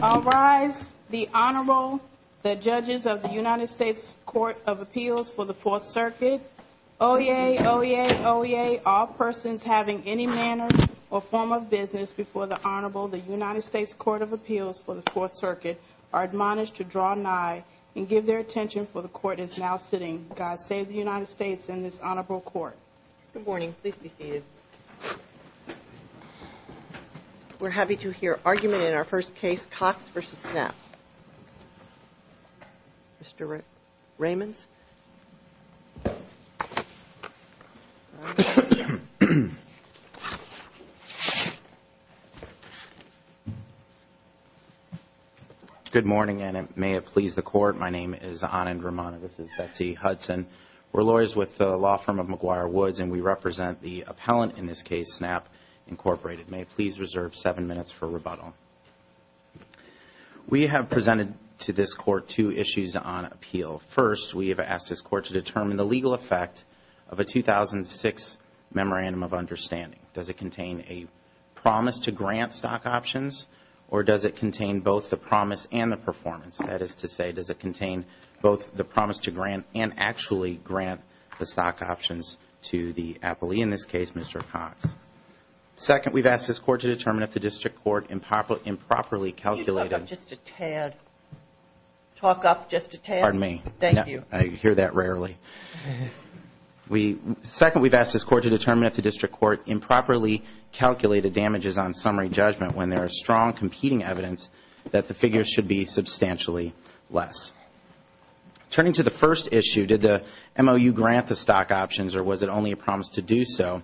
I'll rise. The Honorable, the judges of the United States Court of Appeals for the Fourth Circuit. Oyez, oyez, oyez, all persons having any manner or form of business before the Honorable, the United States Court of Appeals for the Fourth Circuit, are admonished to draw nigh and give their attention for the Court is now sitting. God save the United States and this Honorable Court. Good morning. Please be seated. We're happy to hear argument in our first case, Cox v. Snap. Mr. Raymonds? Good morning, and may it please the Court, my name is Anand Ramana. This is Betsy Hudson. We're lawyers with the law firm of McGuire Woods, and we represent the appellant in this case, Snap, Inc. May it please reserve seven minutes for rebuttal. We have presented to this Court two issues on appeal. First, we have asked this Court to determine the legal effect of a 2006 Memorandum of Understanding. Does it contain a promise to grant stock options, or does it contain both the promise and the performance? That is to say, does it contain both the promise to grant and actually grant the stock options to the appellee? In this case, Mr. Cox. Second, we've asked this Court to determine if the district court improperly calculated You talk up just a tad. Talk up just a tad. Pardon me. Thank you. I hear that rarely. Second, we've asked this Court to determine if the district court improperly calculated damages on summary judgment when there is strong competing evidence that the figures should be substantially less. Turning to the first issue, did the MOU grant the stock options, or was it only a promise to do so?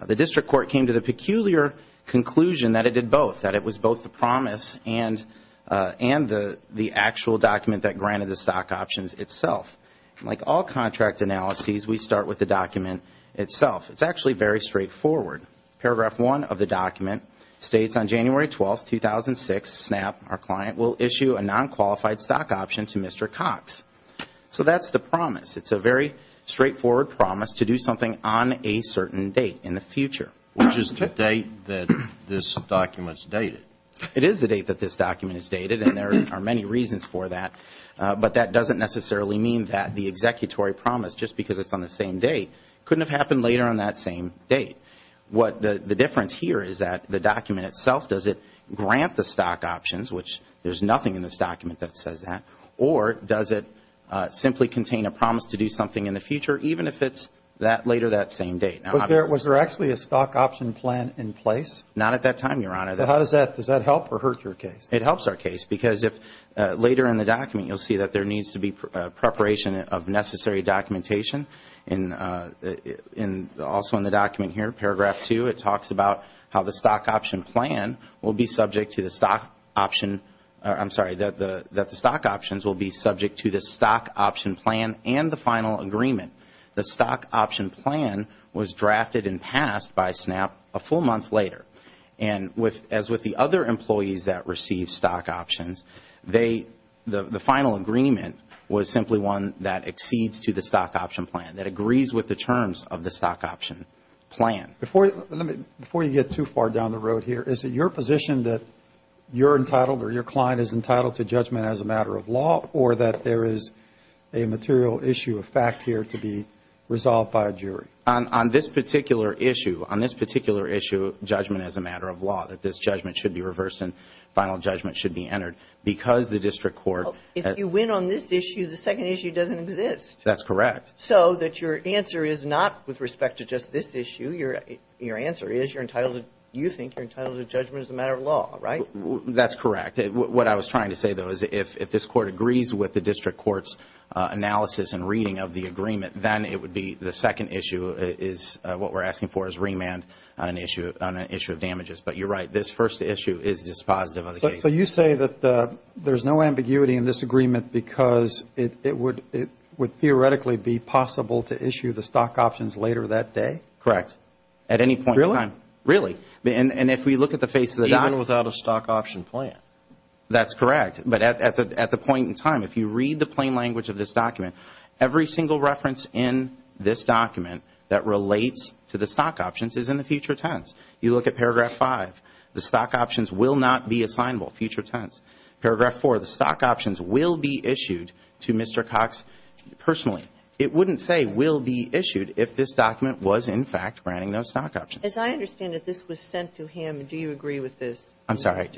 The district court came to the peculiar conclusion that it did both, that it was both the promise and the actual document that granted the stock options itself. Like all contract analyses, we start with the document itself. It's actually very straightforward. Paragraph 1 of the document states on January 12, 2006, SNAP, our client, will issue a non-qualified stock option to Mr. Cox. So that's the promise. It's a very straightforward promise to do something on a certain date in the future. Which is the date that this document is dated. It is the date that this document is dated, and there are many reasons for that. But that doesn't necessarily mean that the executory promise, just because it's on the same date, couldn't have happened later on that same date. The difference here is that the document itself, does it grant the stock options, which there's nothing in this document that says that, or does it simply contain a promise to do something in the future, even if it's later that same date? Was there actually a stock option plan in place? Not at that time, Your Honor. Does that help or hurt your case? It helps our case, because later in the document, you'll see that there needs to be preparation of necessary documentation. And also in the document here, paragraph two, it talks about how the stock option plan will be subject to the stock option, I'm sorry, that the stock options will be subject to the stock option plan and the final agreement. The stock option plan was drafted and passed by SNAP a full month later. And as with the other employees that received stock options, the final agreement was simply one that exceeds to the stock option plan, that agrees with the terms of the stock option plan. Before you get too far down the road here, is it your position that you're entitled or your client is entitled to judgment as a matter of law, or that there is a material issue of fact here to be resolved by a jury? On this particular issue, on this particular issue, judgment as a matter of law, that this judgment should be reversed and final judgment should be entered. Because the district court – If you win on this issue, the second issue doesn't exist. That's correct. So that your answer is not with respect to just this issue. Your answer is you're entitled – you think you're entitled to judgment as a matter of law, right? That's correct. What I was trying to say, though, is if this court agrees with the district court's analysis and reading of the agreement, then it would be the second issue is what we're asking for is remand on an issue of damages. But you're right. This first issue is dispositive of the case. So you say that there's no ambiguity in this agreement because it would theoretically be possible to issue the stock options later that day? Correct. At any point in time. Really? Really. And if we look at the face of the document – Even without a stock option plan. That's correct. But at the point in time, if you read the plain language of this document, every single reference in this document that relates to the stock options is in the future tense. You look at paragraph 5. The stock options will not be assignable. Future tense. Paragraph 4. The stock options will be issued to Mr. Cox personally. It wouldn't say will be issued if this document was, in fact, granting no stock options. As I understand it, this was sent to him. Do you agree with this? I'm sorry?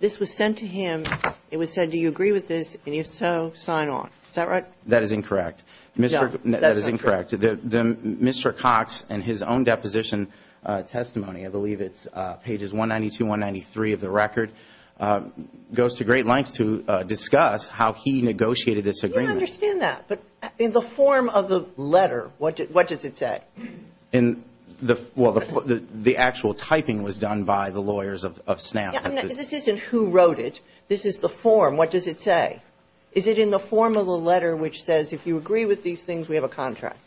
This was sent to him. It was said, do you agree with this? And if so, sign on. Is that right? That is incorrect. That is incorrect. Mr. Cox in his own deposition testimony, I believe it's pages 192, 193 of the record, goes to great lengths to discuss how he negotiated this agreement. I understand that. But in the form of the letter, what does it say? Well, the actual typing was done by the lawyers of SNAF. This isn't who wrote it. This is the form. What does it say? Is it in the form of a letter which says if you agree with these things, we have a contract?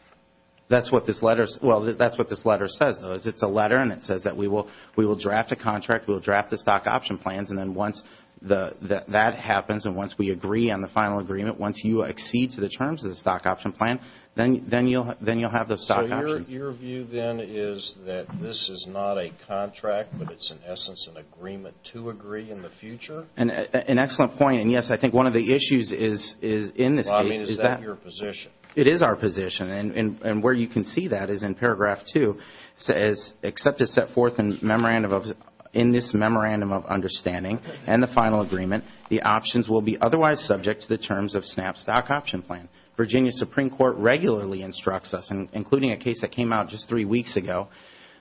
That's what this letter says. It's a letter, and it says that we will draft a contract, we will draft the stock option plans, and then once that happens and once we agree on the final agreement, once you exceed to the terms of the stock option plan, then you'll have the stock options. So your view then is that this is not a contract, but it's in essence an agreement to agree in the future? An excellent point. And, yes, I think one of the issues in this case is that. Is that your position? It is our position. And where you can see that is in paragraph 2, it says, except as set forth in this memorandum of understanding and the final agreement, the options will be otherwise subject to the terms of SNAF's stock option plan. Virginia Supreme Court regularly instructs us, including a case that came out just three weeks ago,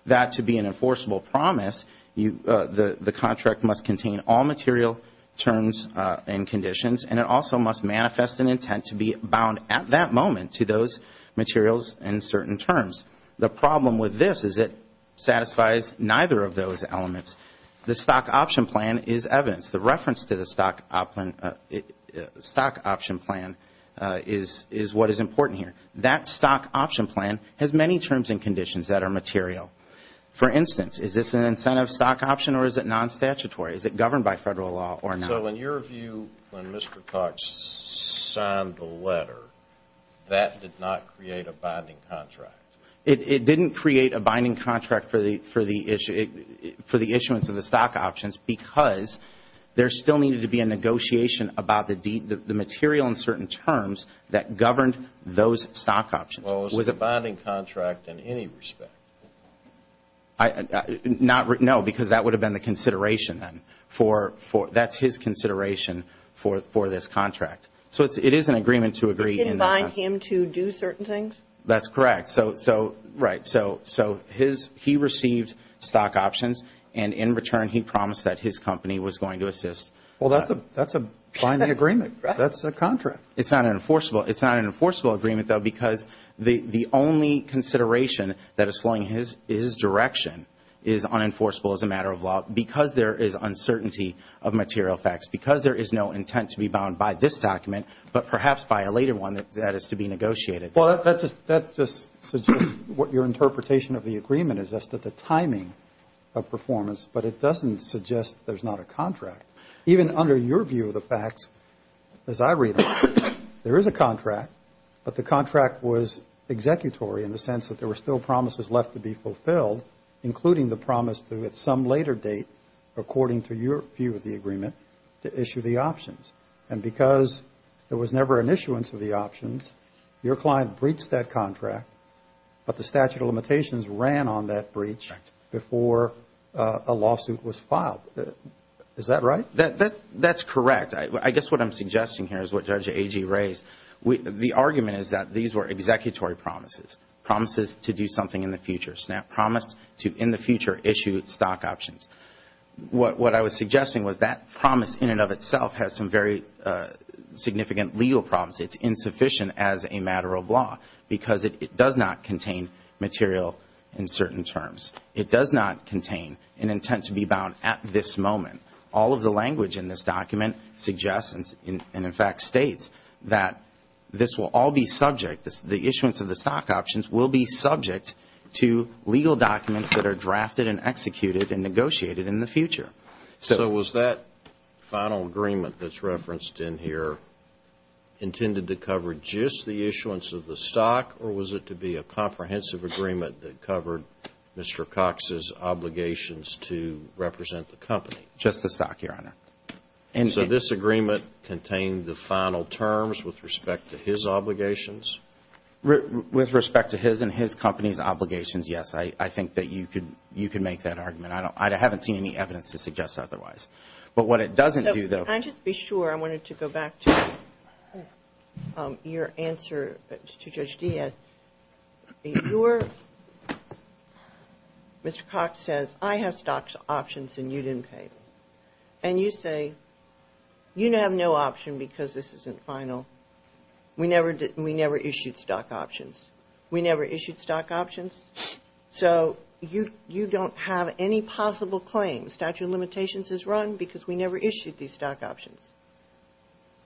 that to be an enforceable promise, the contract must contain all material terms and conditions, and it also must manifest an intent to be bound at that moment to those materials and certain terms. The problem with this is it satisfies neither of those elements. The stock option plan is evidence. The reference to the stock option plan is what is important here. That stock option plan has many terms and conditions that are material. For instance, is this an incentive stock option or is it non-statutory? Is it governed by Federal law or not? So in your view, when Mr. Cox signed the letter, that did not create a binding contract? It didn't create a binding contract for the issuance of the stock options because there still needed to be a negotiation about the material and certain terms that governed those stock options. Well, it was a binding contract in any respect. No, because that would have been the consideration then. That's his consideration for this contract. So it is an agreement to agree in that sense. It didn't bind him to do certain things? That's correct. Right. So he received stock options, and in return he promised that his company was going to assist. Well, that's a binding agreement. That's a contract. It's not an enforceable agreement, though, because the only consideration that is flowing his direction is unenforceable as a matter of law because there is uncertainty of material facts, because there is no intent to be bound by this document, but perhaps by a later one that is to be negotiated. Well, that just suggests what your interpretation of the agreement is, just that the timing of performance, but it doesn't suggest there's not a contract. Even under your view of the facts, as I read it, there is a contract, but the contract was executory in the sense that there were still promises left to be fulfilled, including the promise that at some later date, according to your view of the agreement, to issue the options. And because there was never an issuance of the options, your client breached that contract, but the statute of limitations ran on that breach before a lawsuit was filed. Is that right? That's correct. I guess what I'm suggesting here is what Judge Agee raised. The argument is that these were executory promises, promises to do something in the future, SNAP promised to in the future issue stock options. What I was suggesting was that promise in and of itself has some very significant legal problems. It's insufficient as a matter of law because it does not contain material in certain terms. It does not contain an intent to be bound at this moment. All of the language in this document suggests and, in fact, states that this will all be subject, the issuance of the stock options will be subject to legal documents that are drafted and executed and negotiated in the future. So was that final agreement that's referenced in here intended to cover just the issuance of the stock or was it to be a comprehensive agreement that covered Mr. Cox's obligations to represent the company? Just the stock, Your Honor. And so this agreement contained the final terms with respect to his obligations? With respect to his and his company's obligations, yes. I think that you could make that argument. I haven't seen any evidence to suggest otherwise. But what it doesn't do, though. Can I just be sure? I wanted to go back to your answer to Judge Diaz. Mr. Cox says, I have stock options and you didn't pay. And you say, you have no option because this isn't final. We never issued stock options. We never issued stock options. So you don't have any possible claims. The statute of limitations is run because we never issued these stock options.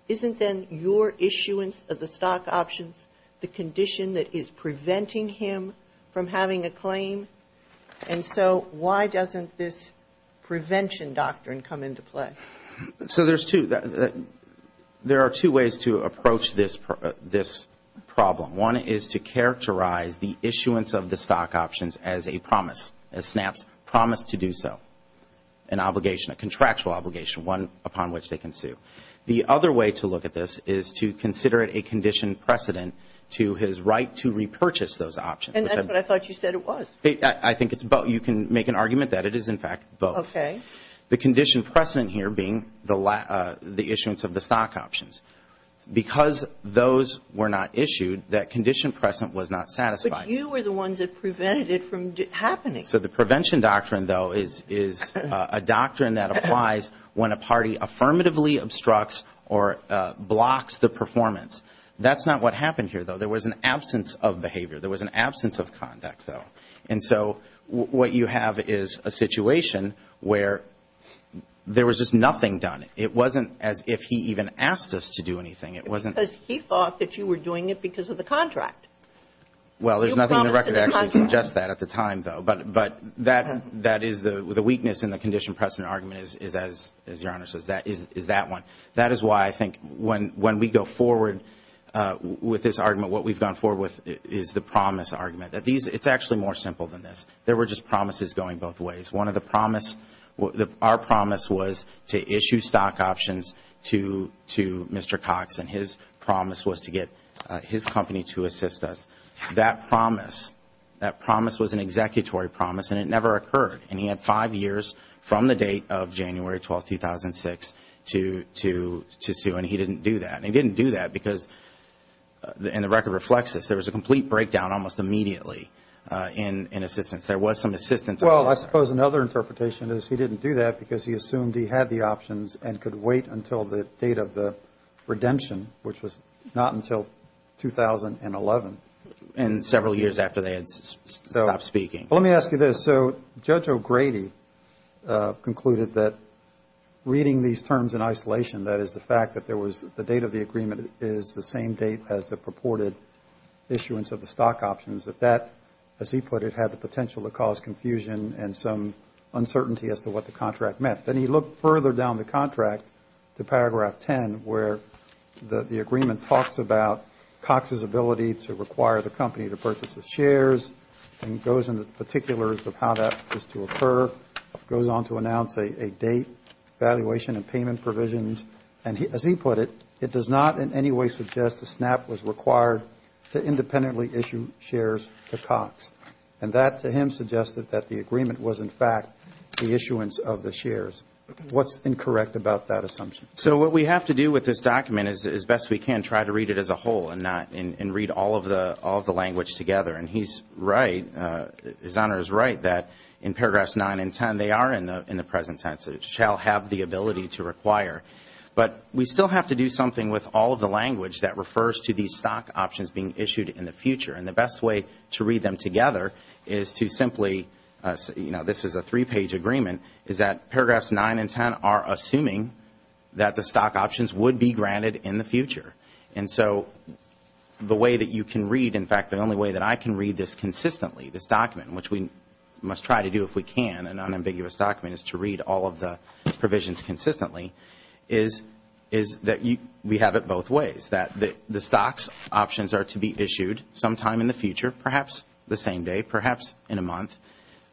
Isn't then your issuance of the stock options the condition that is preventing him from having a claim? And so why doesn't this prevention doctrine come into play? So there's two. There are two ways to approach this problem. One is to characterize the issuance of the stock options as a promise, a SNAP's promise to do so, an obligation, a contractual obligation, one upon which they can sue. The other way to look at this is to consider it a condition precedent to his right to repurchase those options. And that's what I thought you said it was. I think it's both. You can make an argument that it is, in fact, both. Okay. The condition precedent here being the issuance of the stock options. Because those were not issued, that condition precedent was not satisfied. But you were the ones that prevented it from happening. So the prevention doctrine, though, is a doctrine that applies when a party affirmatively obstructs or blocks the performance. That's not what happened here, though. There was an absence of behavior. There was an absence of conduct, though. And so what you have is a situation where there was just nothing done. It wasn't as if he even asked us to do anything. It wasn't. Because he thought that you were doing it because of the contract. Well, there's nothing in the record that actually suggests that at the time, though. But that is the weakness in the condition precedent argument is, as Your Honor says, is that one. That is why I think when we go forward with this argument, what we've gone forward with is the promise argument. It's actually more simple than this. There were just promises going both ways. Our promise was to issue stock options to Mr. Cox, and his promise was to get his company to assist us. That promise was an executory promise, and it never occurred. And he had five years from the date of January 12, 2006 to sue, and he didn't do that. And he didn't do that because, and the record reflects this, there was a complete breakdown almost immediately in assistance. There was some assistance. Well, I suppose another interpretation is he didn't do that because he assumed he had the options and could wait until the date of the redemption, which was not until 2011. And several years after they had stopped speaking. Let me ask you this. So Judge O'Grady concluded that reading these terms in isolation, that is the fact that there was the date of the agreement is the same date as the purported issuance of the stock options, that that, as he put it, had the potential to cause confusion and some uncertainty as to what the contract meant. Then he looked further down the contract to paragraph 10, where the agreement talks about Cox's ability to require the company to purchase the shares, and goes into the particulars of how that was to occur, goes on to announce a date, valuation and payment provisions. And as he put it, it does not in any way suggest the SNAP was required to independently issue shares to Cox. And that, to him, suggested that the agreement was, in fact, the issuance of the shares. What's incorrect about that assumption? So what we have to do with this document is, as best we can, try to read it as a whole and read all of the language together. And he's right, His Honor is right, that in paragraphs 9 and 10, they are in the present tense. It shall have the ability to require. But we still have to do something with all of the language that refers to these stock options being issued in the future. And the best way to read them together is to simply, you know, this is a three-page agreement, is that paragraphs 9 and 10 are assuming that the stock options would be granted in the future. And so the way that you can read, in fact, the only way that I can read this consistently, this document, which we must try to do if we can, an unambiguous document, is to read all of the provisions consistently, is that we have it both ways, that the stocks options are to be issued sometime in the future, perhaps the same day, perhaps in a month.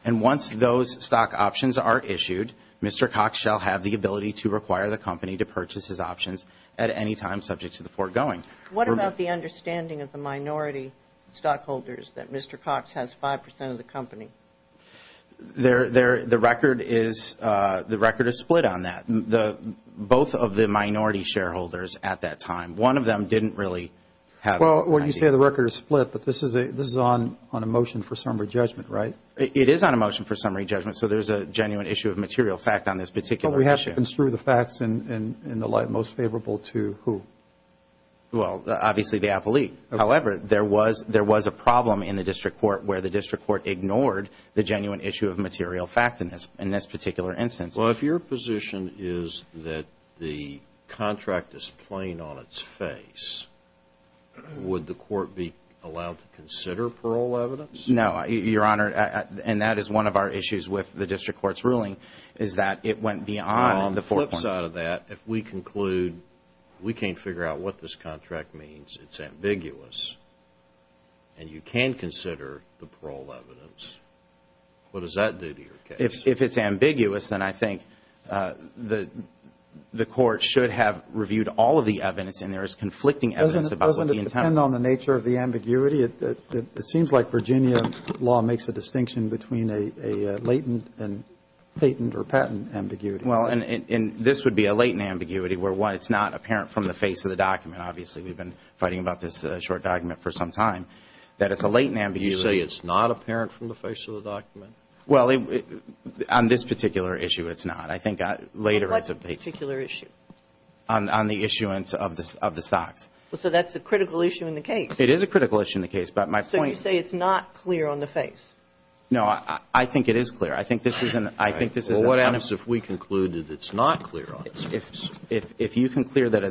And once those stock options are issued, Mr. Cox shall have the ability to require the company to purchase his options at any time subject to the foregoing. What about the understanding of the minority stockholders that Mr. Cox has 5 percent of the company? The record is split on that. Both of the minority shareholders at that time, one of them didn't really have. Well, when you say the record is split, but this is on a motion for summary judgment, right? It is on a motion for summary judgment, so there's a genuine issue of material fact on this particular issue. What happens through the facts in the light most favorable to who? Well, obviously the appellee. However, there was a problem in the district court where the district court ignored the genuine issue of material fact in this particular instance. Well, if your position is that the contract is plain on its face, would the court be allowed to consider parole evidence? No, Your Honor, and that is one of our issues with the district court's ruling is that it went beyond the foregoing. On the flip side of that, if we conclude we can't figure out what this contract means, it's ambiguous, and you can consider the parole evidence, what does that do to your case? If it's ambiguous, then I think the court should have reviewed all of the evidence, and there is conflicting evidence about what the intent was. Doesn't it depend on the nature of the ambiguity? It seems like Virginia law makes a distinction between a latent and patent or patent ambiguity. Well, and this would be a latent ambiguity where, one, it's not apparent from the face of the document. Obviously, we've been fighting about this short document for some time, that it's a latent ambiguity. You say it's not apparent from the face of the document? Well, on this particular issue, it's not. I think later it's a big issue. What's the particular issue? On the issuance of the stocks. So that's a critical issue in the case. It is a critical issue in the case, but my point – So you say it's not clear on the face. No, I think it is clear. I think this is a – Well, what happens if we conclude that it's not clear on the face? If you conclude that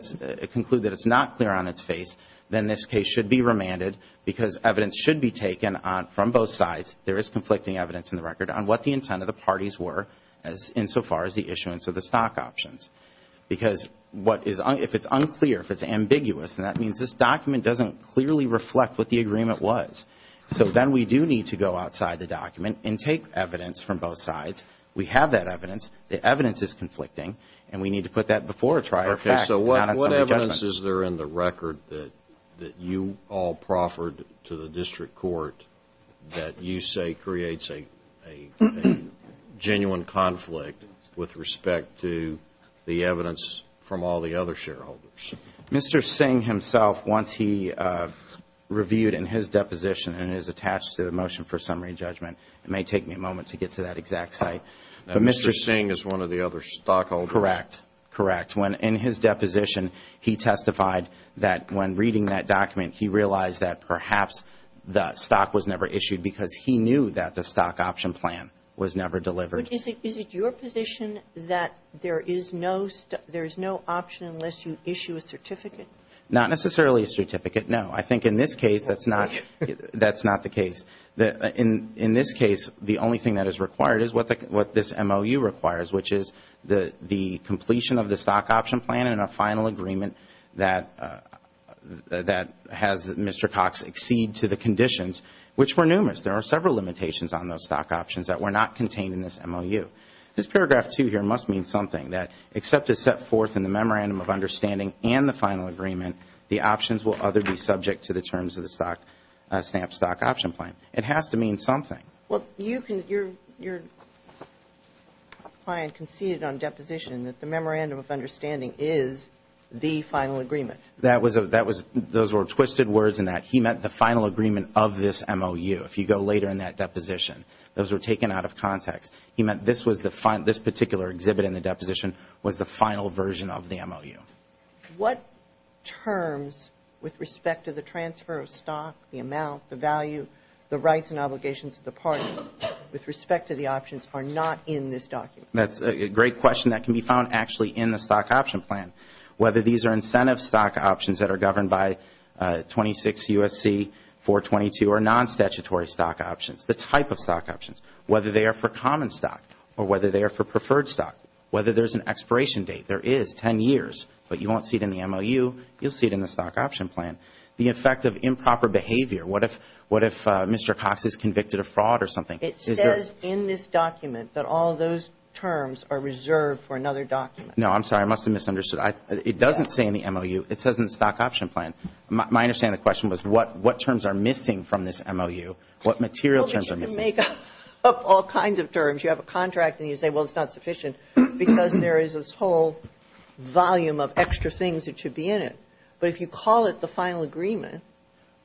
it's not clear on its face, then this case should be remanded, because evidence should be taken from both sides. There is conflicting evidence in the record on what the intent of the parties were insofar as the issuance of the stock options. Because if it's unclear, if it's ambiguous, then that means this document doesn't clearly reflect what the agreement was. So then we do need to go outside the document and take evidence from both sides. We have that evidence. The evidence is conflicting, and we need to put that before a trial. Okay, so what evidence is there in the record that you all proffered to the district court that you say creates a genuine conflict with respect to the evidence from all the other shareholders? Mr. Singh himself, once he reviewed in his deposition, and it is attached to the motion for summary judgment, it may take me a moment to get to that exact site. Mr. Singh is one of the other stockholders. Correct. Correct. In his deposition, he testified that when reading that document, he realized that perhaps the stock was never issued because he knew that the stock option plan was never delivered. Is it your position that there is no option unless you issue a certificate? Not necessarily a certificate, no. I think in this case, that's not the case. In this case, the only thing that is required is what this MOU requires, which is the completion of the stock option plan and a final agreement that has Mr. Cox accede to the conditions, which were numerous. There are several limitations on those stock options that were not contained in this MOU. This paragraph 2 here must mean something, that except as set forth in the memorandum of understanding and the final agreement, the options will other be subject to the terms of the SNAP stock option plan. It has to mean something. Well, your client conceded on deposition that the memorandum of understanding is the final agreement. Those were twisted words in that he meant the final agreement of this MOU. If you go later in that deposition, those were taken out of context. He meant this particular exhibit in the deposition was the final version of the MOU. What terms with respect to the transfer of stock, the amount, the value, the rights and obligations of the parties with respect to the options are not in this document? That's a great question. That can be found actually in the stock option plan, whether these are incentive stock options that are governed by 26 U.S.C. 422 or non-statutory stock options, the type of stock options, whether they are for common stock or whether they are for preferred stock, whether there's an expiration date. There is 10 years, but you won't see it in the MOU. You'll see it in the stock option plan. The effect of improper behavior, what if Mr. Cox is convicted of fraud or something? It says in this document that all those terms are reserved for another document. No, I'm sorry. I must have misunderstood. It doesn't say in the MOU. It says in the stock option plan. My understanding of the question was what terms are missing from this MOU? What material terms are missing? Well, you can make up all kinds of terms. You have a contract and you say, well, it's not sufficient, because there is this whole volume of extra things that should be in it. But if you call it the final agreement.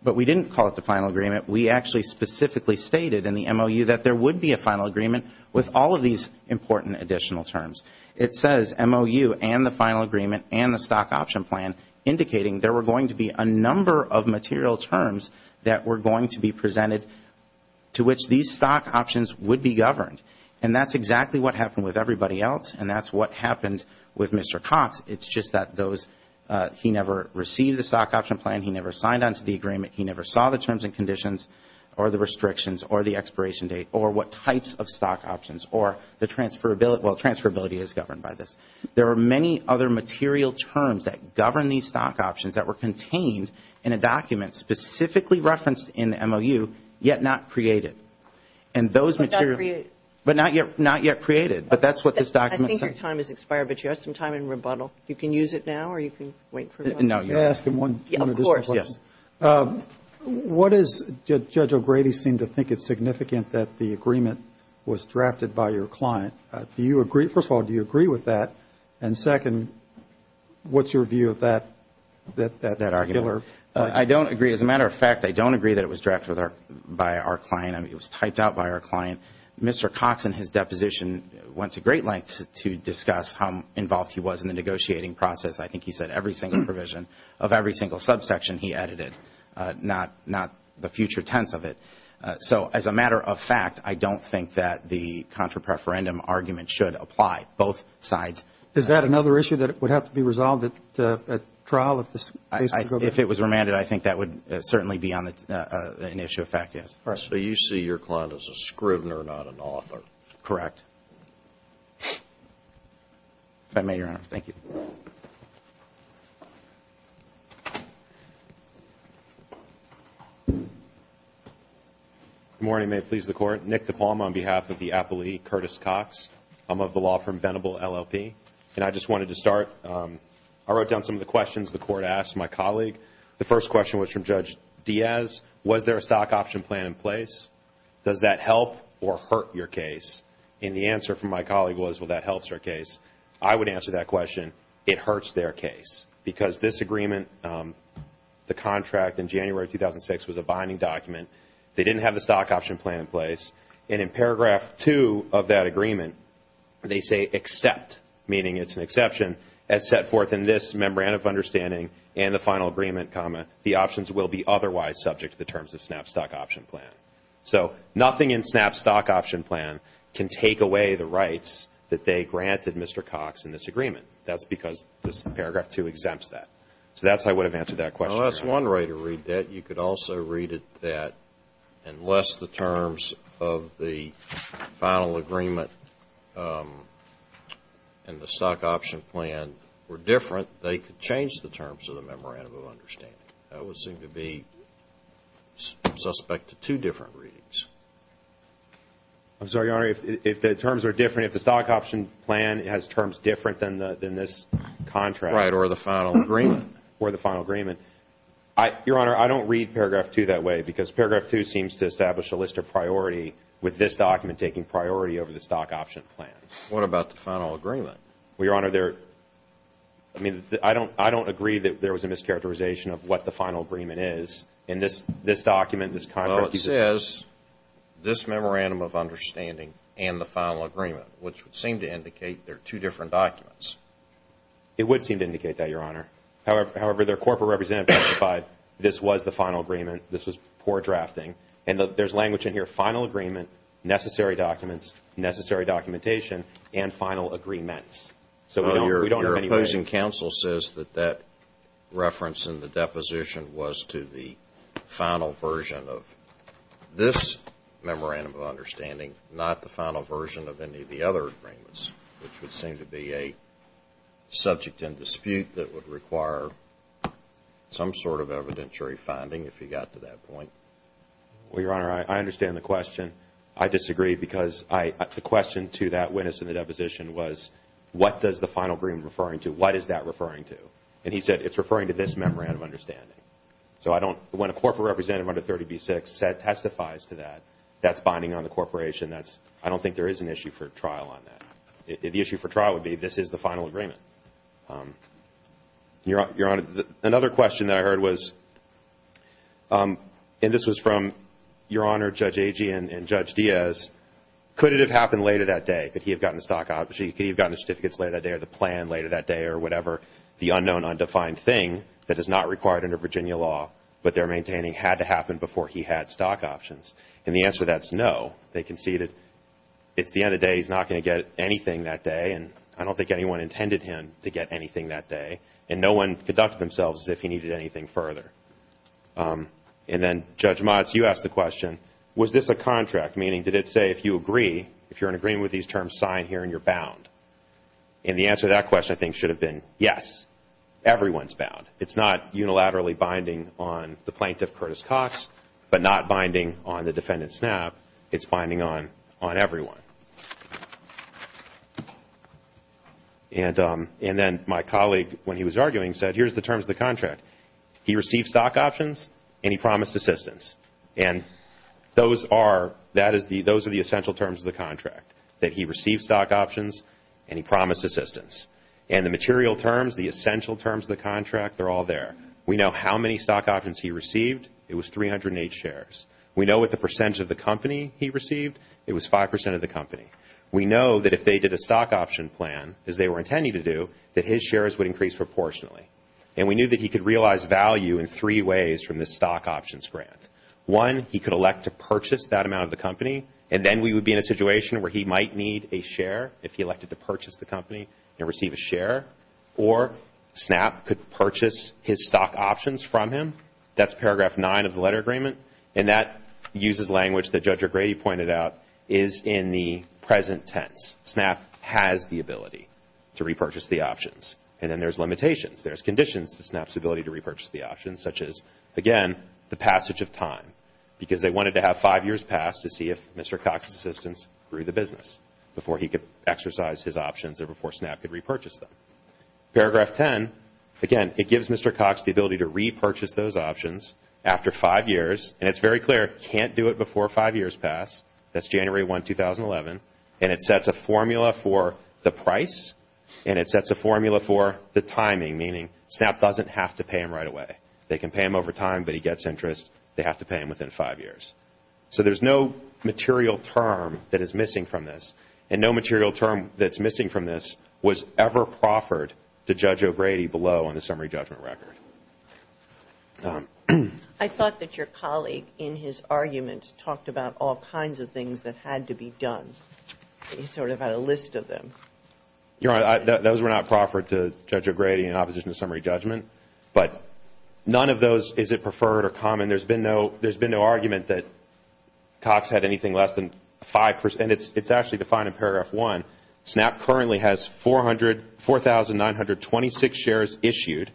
But we didn't call it the final agreement. We actually specifically stated in the MOU that there would be a final agreement with all of these important additional terms. It says MOU and the final agreement and the stock option plan indicating there were going to be a number of material terms that were going to be presented to which these stock options would be governed. And that's exactly what happened with everybody else, and that's what happened with Mr. Cox. It's just that he never received the stock option plan. He never signed onto the agreement. He never saw the terms and conditions or the restrictions or the expiration date or what types of stock options or the transferability. Well, transferability is governed by this. There are many other material terms that govern these stock options that were contained in a document specifically referenced in the MOU, yet not created. And those materials. But not created. But not yet created. But that's what this document says. I think your time has expired, but you have some time in rebuttal. You can use it now or you can wait for it. No, you're asking one additional question. Of course. Yes. What does Judge O'Grady seem to think is significant that the agreement was drafted by your client? Do you agree? First of all, do you agree with that? And second, what's your view of that argument? I don't agree. As a matter of fact, I don't agree that it was drafted by our client. It was typed out by our client. Mr. Cox in his deposition went to great lengths to discuss how involved he was in the negotiating process. I think he said every single provision of every single subsection he edited, not the future tense of it. So as a matter of fact, I don't think that the contra-preferendum argument should apply, both sides. Is that another issue that would have to be resolved at trial if this case were to go to trial? If it was remanded, I think that would certainly be an issue of fact, yes. So you see your client as a scrivener, not an author? Correct. If I may, Your Honor. Thank you. Good morning. May it please the Court. Nick DePalma on behalf of the appellee, Curtis Cox. I'm of the law firm Venable LLP, and I just wanted to start. I wrote down some of the questions the Court asked my colleague. The first question was from Judge Diaz. Was there a stock option plan in place? Does that help or hurt your case? And the answer from my colleague was, well, that helps our case. I would answer that question, it hurts their case. Because this agreement, the contract in January 2006 was a binding document. They didn't have the stock option plan in place. And in paragraph 2 of that agreement, they say, except, meaning it's an exception, as set forth in this Memorandum of Understanding and the final agreement, comma, the options will be otherwise subject to the terms of SNAP stock option plan. So nothing in SNAP stock option plan can take away the rights that they granted Mr. Cox in this agreement. That's because this paragraph 2 exempts that. So that's why I would have answered that question. Well, that's one way to read that. You could also read it that unless the terms of the final agreement and the stock option plan were different, they could change the terms of the Memorandum of Understanding. That would seem to be suspect to two different readings. I'm sorry, Your Honor, if the terms are different, if the stock option plan has terms different than this contract. Right, or the final agreement. Or the final agreement. Your Honor, I don't read paragraph 2 that way because paragraph 2 seems to establish a list of priority with this document taking priority over the stock option plan. What about the final agreement? Well, Your Honor, I don't agree that there was a mischaracterization of what the final agreement is. In this document, this contract. Well, it says this Memorandum of Understanding and the final agreement, which would seem to indicate they're two different documents. It would seem to indicate that, Your Honor. However, their corporate representative testified this was the final agreement, this was poor drafting. And there's language in here, final agreement, necessary documents, necessary documentation, and final agreements. So we don't have any reason. Your opposing counsel says that that reference in the deposition was to the final version of this Memorandum of Understanding, not the final version of any of the other agreements, which would seem to be a subject in dispute that would require some sort of evidentiary finding, if you got to that point. Well, Your Honor, I understand the question. I disagree because the question to that witness in the deposition was, what does the final agreement referring to, what is that referring to? And he said, it's referring to this Memorandum of Understanding. So when a corporate representative under 30b-6 testifies to that, that's binding on the corporation. I don't think there is an issue for trial on that. The issue for trial would be, this is the final agreement. Your Honor, another question that I heard was, and this was from Your Honor, Judge Agee and Judge Diaz, could it have happened later that day? Could he have gotten the stock option? Could he have gotten the certificates later that day or the plan later that day or whatever? The unknown, undefined thing that is not required under Virginia law, but they're maintaining had to happen before he had stock options. And the answer to that is no. They conceded, it's the end of the day, he's not going to get anything that day, and I don't think anyone intended him to get anything that day. And no one conducted themselves as if he needed anything further. And then, Judge Motz, you asked the question, was this a contract? Meaning, did it say if you agree, if you're in agreement with these terms, sign here and you're bound? And the answer to that question, I think, should have been yes. Everyone's bound. It's not unilaterally binding on the plaintiff, Curtis Cox, but not binding on the defendant, Snapp. It's binding on everyone. And then my colleague, when he was arguing, said, here's the terms of the contract. He received stock options and he promised assistance. And those are the essential terms of the contract, that he received stock options and he promised assistance. And the material terms, the essential terms of the contract, they're all there. We know how many stock options he received. It was 308 shares. We know what the percentage of the company he received. It was 5% of the company. We know that if they did a stock option plan, as they were intending to do, that his shares would increase proportionately. And we knew that he could realize value in three ways from this stock options grant. One, he could elect to purchase that amount of the company, and then we would be in a situation where he might need a share, if he elected to purchase the company and receive a share. Or, Snapp could purchase his stock options from him. That's paragraph 9 of the letter agreement. And that uses language that Judge O'Grady pointed out is in the present tense. Snapp has the ability to repurchase the options. And then there's limitations. There's conditions to Snapp's ability to repurchase the options, such as, again, the passage of time, because they wanted to have five years pass to see if Mr. Cox's assistance grew the business, before he could exercise his options or before Snapp could repurchase them. Paragraph 10, again, it gives Mr. Cox the ability to repurchase those options. After five years, and it's very clear, can't do it before five years pass. That's January 1, 2011. And it sets a formula for the price, and it sets a formula for the timing, meaning Snapp doesn't have to pay him right away. They can pay him over time, but he gets interest. They have to pay him within five years. So there's no material term that is missing from this. And no material term that's missing from this was ever proffered to Judge O'Grady below on the summary judgment record. I thought that your colleague, in his arguments, talked about all kinds of things that had to be done. He sort of had a list of them. You're right. Those were not proffered to Judge O'Grady in opposition to summary judgment. But none of those is it preferred or common. There's been no argument that Cox had anything less than 5 percent. It's actually defined in paragraph 1. Snapp currently has 4,926 shares issued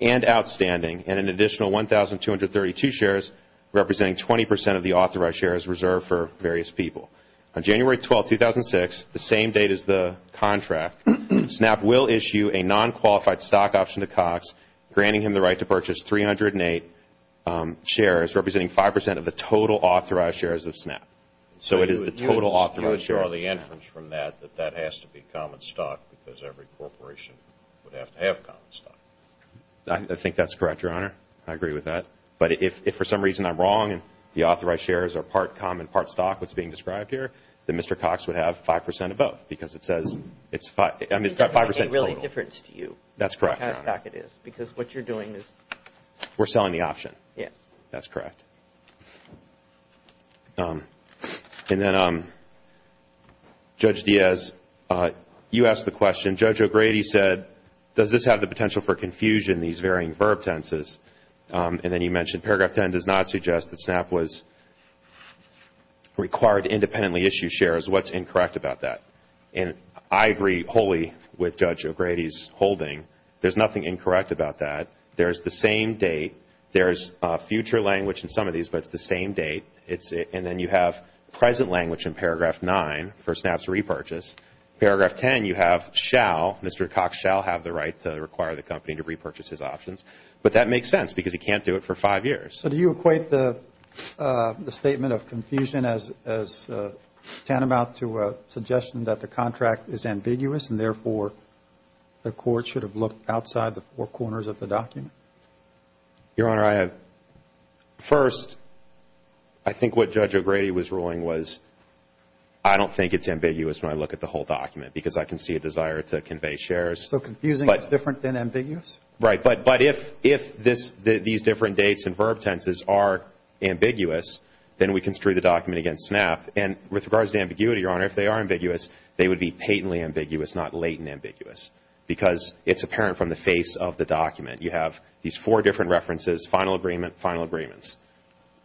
and outstanding and an additional 1,232 shares representing 20 percent of the authorized shares reserved for various people. On January 12, 2006, the same date as the contract, Snapp will issue a non-qualified stock option to Cox, granting him the right to purchase 308 shares, representing 5 percent of the total authorized shares of Snapp. So it is the total authorized shares of Snapp. So you would draw the inference from that that that has to be common stock because every corporation would have to have common stock. I think that's correct, Your Honor. I agree with that. But if for some reason I'm wrong and the authorized shares are part common, part stock, what's being described here, then Mr. Cox would have 5 percent of both because it says it's 5 percent total. It doesn't make a real difference to you what kind of stock it is because what you're doing is... We're selling the option. Yes. That's correct. And then, Judge Diaz, you asked the question. Judge O'Grady said, does this have the potential for confusion, these varying verb tenses? And then you mentioned paragraph 10 does not suggest that Snapp was required to independently issue shares. What's incorrect about that? And I agree wholly with Judge O'Grady's holding. There's nothing incorrect about that. There's the same date. There's future language in some of these, but it's the same date. And then you have present language in paragraph 9 for Snapp's repurchase. Paragraph 10 you have shall, Mr. Cox shall have the right to require the company to repurchase his options. But that makes sense because he can't do it for 5 years. So do you equate the statement of confusion as tantamount to a suggestion that the contract is ambiguous and, therefore, the court should have looked outside the four corners of the document? Your Honor, I have, first, I think what Judge O'Grady was ruling was, I don't think it's ambiguous when I look at the whole document because I can see a desire to convey shares. So confusing is different than ambiguous? Right. But if these different dates and verb tenses are ambiguous, then we construe the document against Snapp. And with regards to ambiguity, Your Honor, if they are ambiguous, they would be patently ambiguous, not latent ambiguous, because it's apparent from the face of the document. You have these four different references, final agreement, final agreements.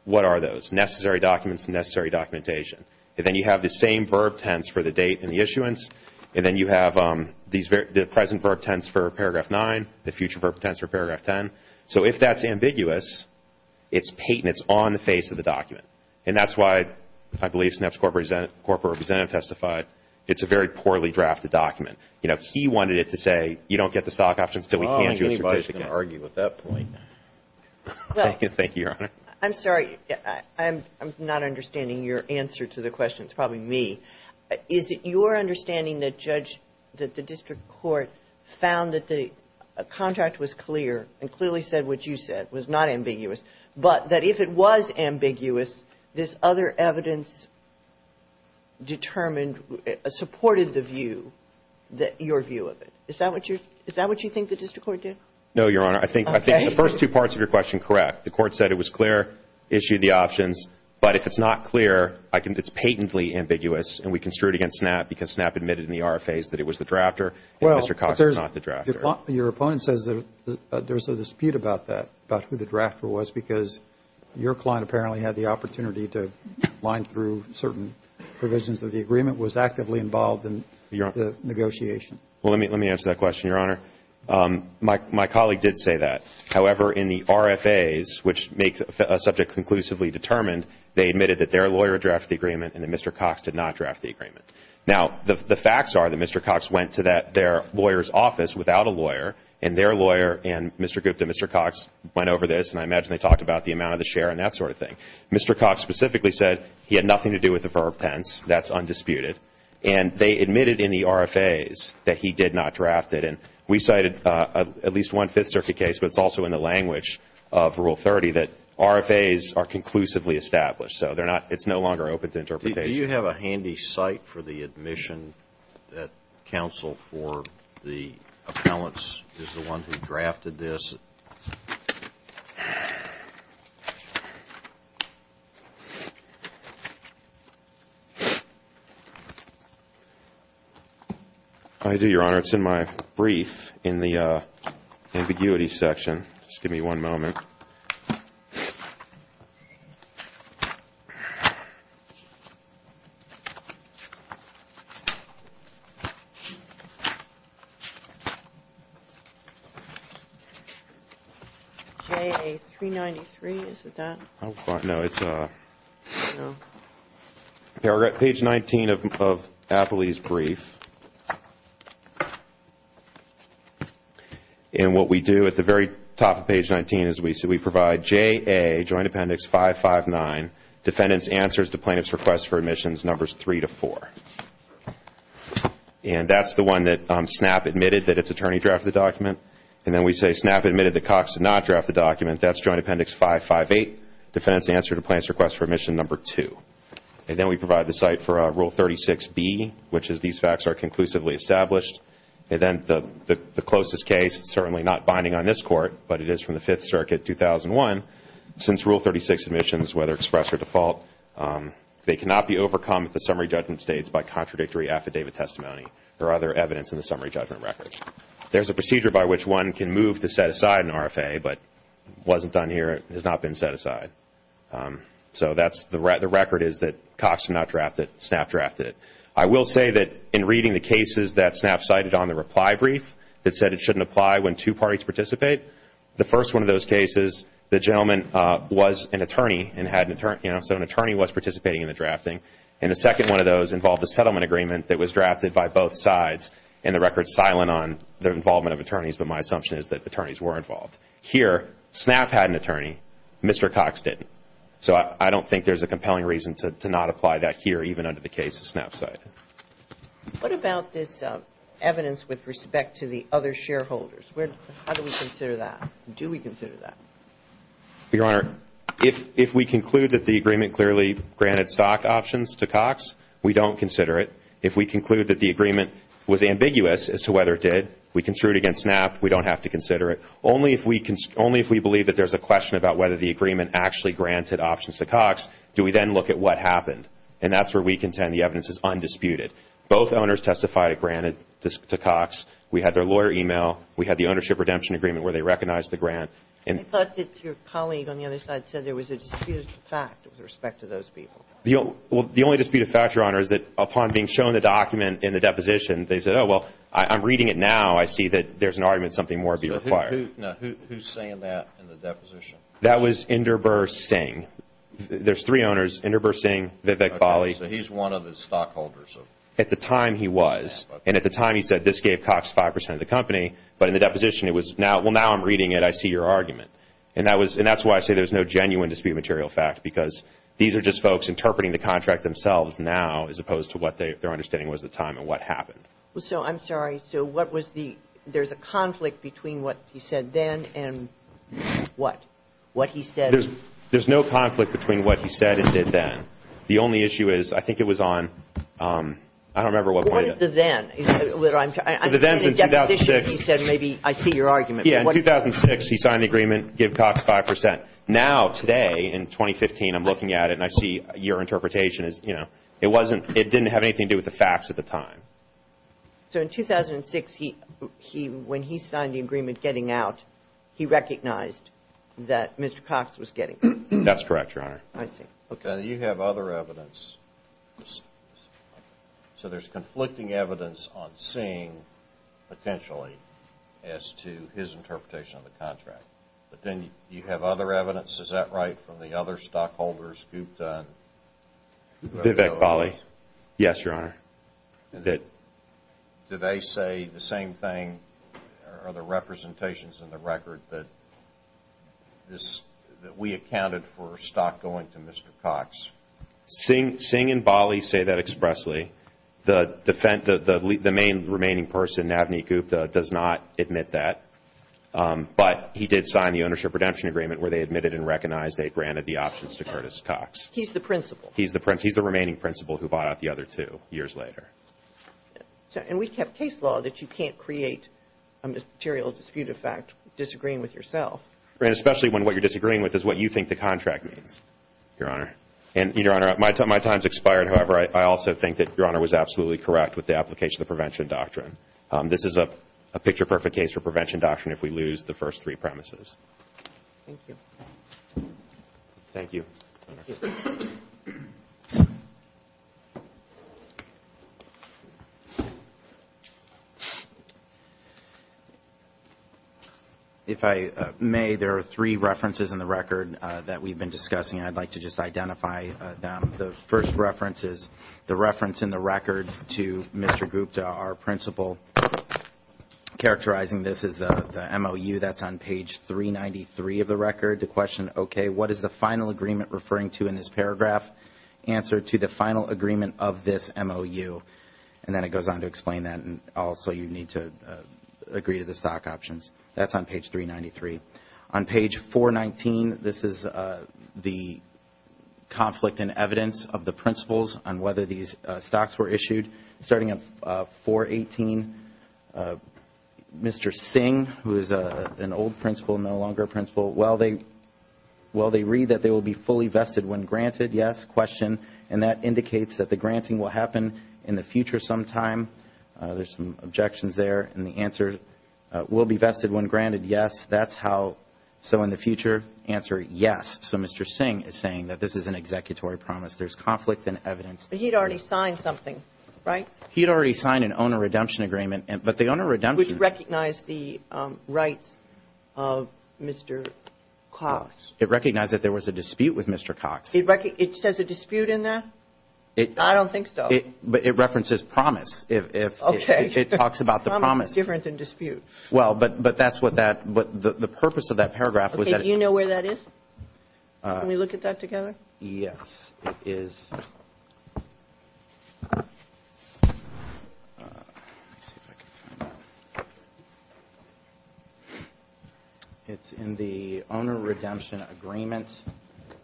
What are those? Necessary documents and necessary documentation. And then you have the same verb tense for the date and the issuance. And then you have the present verb tense for paragraph 9, the future verb tense for paragraph 10. So if that's ambiguous, it's patent, it's on the face of the document. And that's why I believe Snapp's corporate representative testified it's a very poorly drafted document. You know, he wanted it to say you don't get the stock options until we hand you a certificate. Well, I don't think anybody's going to argue with that point. Thank you, Your Honor. I'm sorry. I'm not understanding your answer to the question. It's probably me. Is it your understanding that the district court found that the contract was clear and clearly said what you said, was not ambiguous, but that if it was ambiguous, this other evidence determined, supported the view, your view of it? Is that what you think the district court did? No, Your Honor. I think the first two parts of your question, correct. The court said it was clear, issued the options. But if it's not clear, I think it's patently ambiguous, and we construe it against Snapp because Snapp admitted in the RFAs that it was the drafter and Mr. Cox was not the drafter. Your opponent says there's a dispute about that, about who the drafter was because your client apparently had the opportunity to line through certain provisions of the agreement, was actively involved in the negotiation. Well, let me answer that question, Your Honor. My colleague did say that. However, in the RFAs, which makes a subject conclusively determined, they admitted that their lawyer drafted the agreement and that Mr. Cox did not draft the agreement. Now, the facts are that Mr. Cox went to their lawyer's office without a lawyer, and their lawyer and Mr. Gupta, Mr. Cox went over this, and I imagine they talked about the amount of the share and that sort of thing. Mr. Cox specifically said he had nothing to do with the verb tense. That's undisputed. And they admitted in the RFAs that he did not draft it. And we cited at least one Fifth Circuit case, but it's also in the language of Rule 30 that RFAs are conclusively established. So it's no longer open to interpretation. Do you have a handy cite for the admission that counsel for the appellants is the one who drafted this? I do, Your Honor. It's in my brief in the ambiguity section. Just give me one moment. JA 393, is it that? No, it's page 19 of Appley's brief. And what we do at the very top of page 19 is we provide JA Joint Appendix 559, Defendant's Answers to Plaintiff's Requests for Admissions, Numbers 3 to 4. And that's the one that SNAP admitted that its attorney drafted the document. And then we say SNAP admitted that Cox did not draft the document. That's Joint Appendix 558, Defendant's Answer to Plaintiff's Requests for Admission, Number 2. And then we provide the cite for Rule 36B, which is these facts are conclusively established. And then the closest case, certainly not binding on this Court, but it is from the Fifth Circuit, 2001. Since Rule 36 admissions, whether expressed or default, they cannot be overcome at the summary judgment states by contradictory affidavit testimony or other evidence in the summary judgment records. There's a procedure by which one can move to set aside an RFA, but it wasn't done here. It has not been set aside. So the record is that Cox did not draft it. SNAP drafted it. I will say that in reading the cases that SNAP cited on the reply brief that said it shouldn't apply when two parties participate, the first one of those cases, the gentleman was an attorney and had an attorney. So an attorney was participating in the drafting. And the second one of those involved a settlement agreement that was drafted by both sides. And the record's silent on the involvement of attorneys, but my assumption is that attorneys were involved. Here, SNAP had an attorney. Mr. Cox didn't. So I don't think there's a compelling reason to not apply that here, even under the case of SNAP cited. What about this evidence with respect to the other shareholders? How do we consider that? Do we consider that? Your Honor, if we conclude that the agreement clearly granted stock options to Cox, we don't consider it. If we conclude that the agreement was ambiguous as to whether it did, we construe it against SNAP. We don't have to consider it. Only if we believe that there's a question about whether the agreement actually granted options to Cox do we then look at what happened. And that's where we contend the evidence is undisputed. Both owners testified it granted to Cox. We had their lawyer email. We had the ownership redemption agreement where they recognized the grant. I thought that your colleague on the other side said there was a disputed fact with respect to those people. Well, the only disputed fact, Your Honor, is that upon being shown the document in the deposition, they said, oh, well, I'm reading it now. I see that there's an argument something more be required. Who's saying that in the deposition? That was Inderbir Singh. There's three owners, Inderbir Singh, Vivek Bali. So he's one of the stockholders of SNAP. At the time he was. And at the time he said this gave Cox 5% of the company. But in the deposition it was, well, now I'm reading it. I see your argument. And that's why I say there's no genuine disputed material fact because these are just folks interpreting the contract themselves now as opposed to what their understanding was at the time and what happened. So I'm sorry. So what was the, there's a conflict between what he said then and what? What he said. There's no conflict between what he said and did then. The only issue is I think it was on, I don't remember what point. What is the then? The then is in 2006. He said maybe I see your argument. Yeah, in 2006 he signed the agreement, give Cox 5%. Now today in 2015 I'm looking at it and I see your interpretation is, you know, it wasn't, it didn't have anything to do with the facts at the time. So in 2006 he, when he signed the agreement getting out, he recognized that Mr. Cox was getting out. That's correct, Your Honor. I see. Okay. Do you have other evidence? So there's conflicting evidence on Singh potentially as to his interpretation of the contract. But then do you have other evidence, is that right, from the other stockholders, Guptan? Vivek Bali. Yes, Your Honor. Did they say the same thing or other representations in the record that this, that we accounted for stock going to Mr. Cox? Singh and Bali say that expressly. The main remaining person, Navneet Gupta, does not admit that. But he did sign the ownership redemption agreement where they admitted and recognized they granted the options to Curtis Cox. He's the principal. He bought out the other two years later. And we have case law that you can't create a material dispute effect disagreeing with yourself. Especially when what you're disagreeing with is what you think the contract means, Your Honor. And, Your Honor, my time's expired. However, I also think that Your Honor was absolutely correct with the application of the prevention doctrine. This is a picture perfect case for prevention doctrine if we lose the first three premises. Thank you. Thank you. Thank you. If I may, there are three references in the record that we've been discussing. I'd like to just identify them. The first reference is the reference in the record to Mr. Gupta, our principal. Characterizing this is the MOU that's on page 393 of the record. The question, okay, what is the final agreement referring to in this paragraph? Answer, to the final agreement of this MOU. And then it goes on to explain that. And also you need to agree to the stock options. That's on page 393. On page 419, this is the conflict in evidence of the principals on whether these stocks were issued. Starting at 418, Mr. Singh, who is an old principal, no longer a principal, while they read that they will be fully vested when granted, yes, question. And that indicates that the granting will happen in the future sometime. There's some objections there. And the answer, will be vested when granted, yes. That's how. So in the future, answer, yes. So Mr. Singh is saying that this is an executory promise. There's conflict in evidence. But he had already signed something, right? He had already signed an owner redemption agreement. But the owner redemption. Which recognized the rights of Mr. Cox. It recognized that there was a dispute with Mr. Cox. It says a dispute in there? I don't think so. But it references promise. Okay. It talks about the promise. Promise is different than dispute. Well, but that's what that the purpose of that paragraph was that. Okay. Do you know where that is? Can we look at that together? Yes. Yes, it is. It's in the owner redemption agreement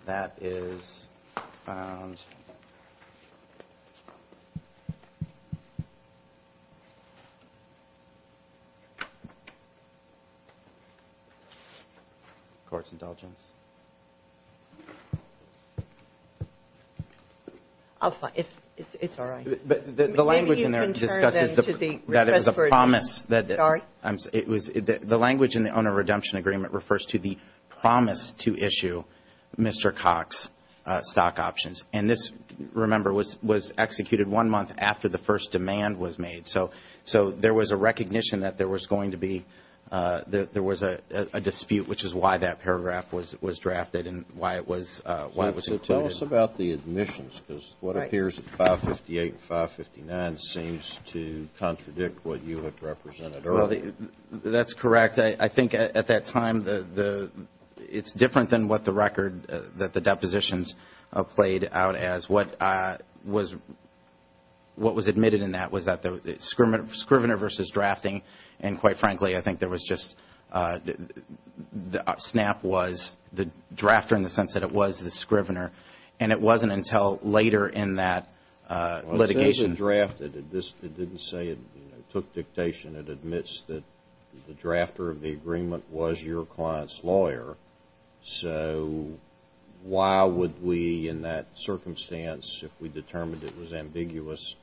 that is found. Court's indulgence. I'll find it. It's all right. The language in there discusses that it was a promise. Sorry? The language in the owner redemption agreement refers to the promise to issue Mr. Cox stock options. And this, remember, was executed one month after the first demand was made. So there was a recognition that there was going to be, there was a dispute, which is why that paragraph was drafted and why it was included. Tell us about the admissions because what appears at 558 and 559 seems to contradict what you had represented earlier. That's correct. I think at that time it's different than what the record that the depositions played out as. What was admitted in that was that the scrivener versus drafting, and quite frankly I think there was just, SNAP was the drafter in the sense that it was the scrivener, and it wasn't until later in that litigation. It says it drafted. It didn't say it took dictation. It admits that the drafter of the agreement was your client's lawyer. So why would we in that circumstance, if we determined it was ambiguous,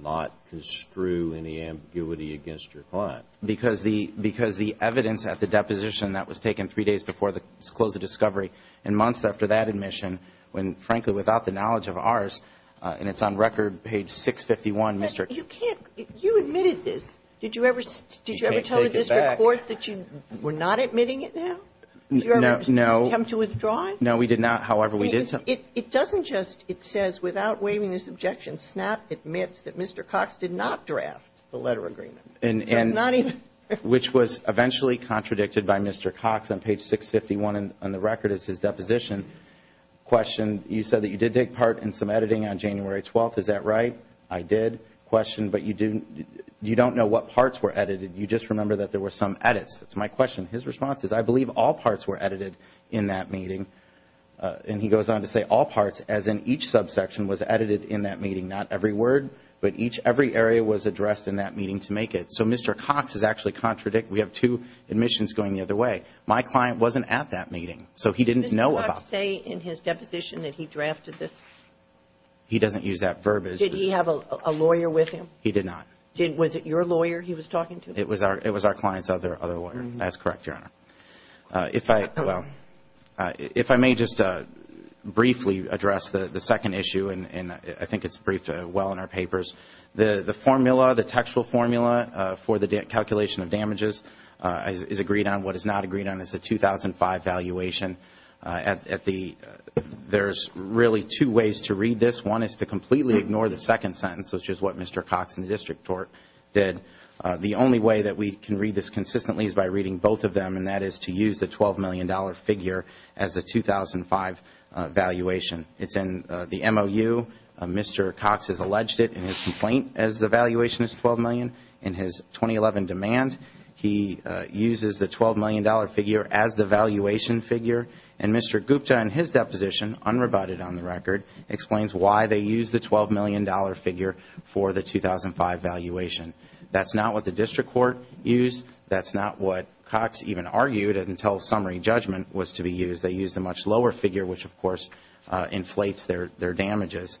not construe any ambiguity against your client? Because the evidence at the deposition that was taken three days before the close of discovery and months after that admission, when frankly without the knowledge of ours, and it's on record page 651, Mr. You can't, you admitted this. Did you ever tell the district court that you were not admitting it now? No. Did you ever attempt to withdraw it? No, we did not. However, we did. It doesn't just, it says without waiving this objection, SNAP admits that Mr. Cox did not draft the letter agreement. And not even. Which was eventually contradicted by Mr. Cox on page 651 on the record as his deposition. Question, you said that you did take part in some editing on January 12th. Is that right? I did. That's a good question. But you don't know what parts were edited. You just remember that there were some edits. That's my question. His response is, I believe all parts were edited in that meeting. And he goes on to say all parts, as in each subsection, was edited in that meeting. Not every word, but each, every area was addressed in that meeting to make it. So Mr. Cox is actually contradicting. We have two admissions going the other way. My client wasn't at that meeting. So he didn't know about it. Did Mr. Cox say in his deposition that he drafted this? He doesn't use that verb. Did he have a lawyer with him? He did not. Was it your lawyer he was talking to? It was our client's other lawyer. That's correct, Your Honor. If I may just briefly address the second issue, and I think it's briefed well in our papers. The formula, the textual formula for the calculation of damages is agreed on. What is not agreed on is the 2005 valuation. There's really two ways to read this. One is to completely ignore the second sentence, which is what Mr. Cox in the district court did. The only way that we can read this consistently is by reading both of them, and that is to use the $12 million figure as the 2005 valuation. It's in the MOU. Mr. Cox has alleged it in his complaint as the valuation is $12 million. In his 2011 demand, he uses the $12 million figure as the valuation figure. And Mr. Gupta in his deposition, unrebutted on the record, explains why they use the $12 million figure for the 2005 valuation. That's not what the district court used. That's not what Cox even argued until summary judgment was to be used. They used a much lower figure, which, of course, inflates their damages.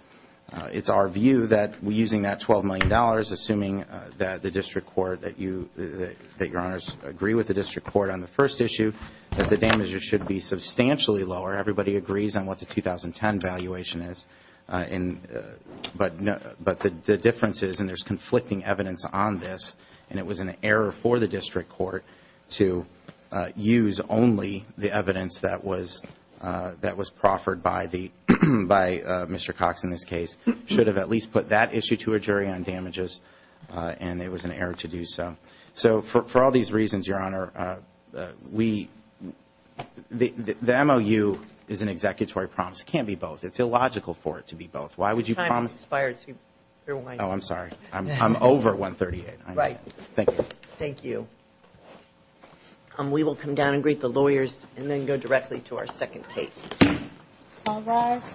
It's our view that using that $12 million, assuming that the district court, that you, that Your Honors, agree with the district court on the first issue, that the damages should be substantially lower. Everybody agrees on what the 2010 valuation is. But the difference is, and there's conflicting evidence on this, and it was an error for the district court to use only the evidence that was proffered by Mr. Cox in this case. Should have at least put that issue to a jury on damages, and it was an error to do so. So for all these reasons, Your Honor, we, the MOU is an executory promise. It can't be both. It's illogical for it to be both. Why would you promise? Oh, I'm sorry. I'm over 138. Right. Thank you. Thank you. We will come down and greet the lawyers and then go directly to our second case. All rise.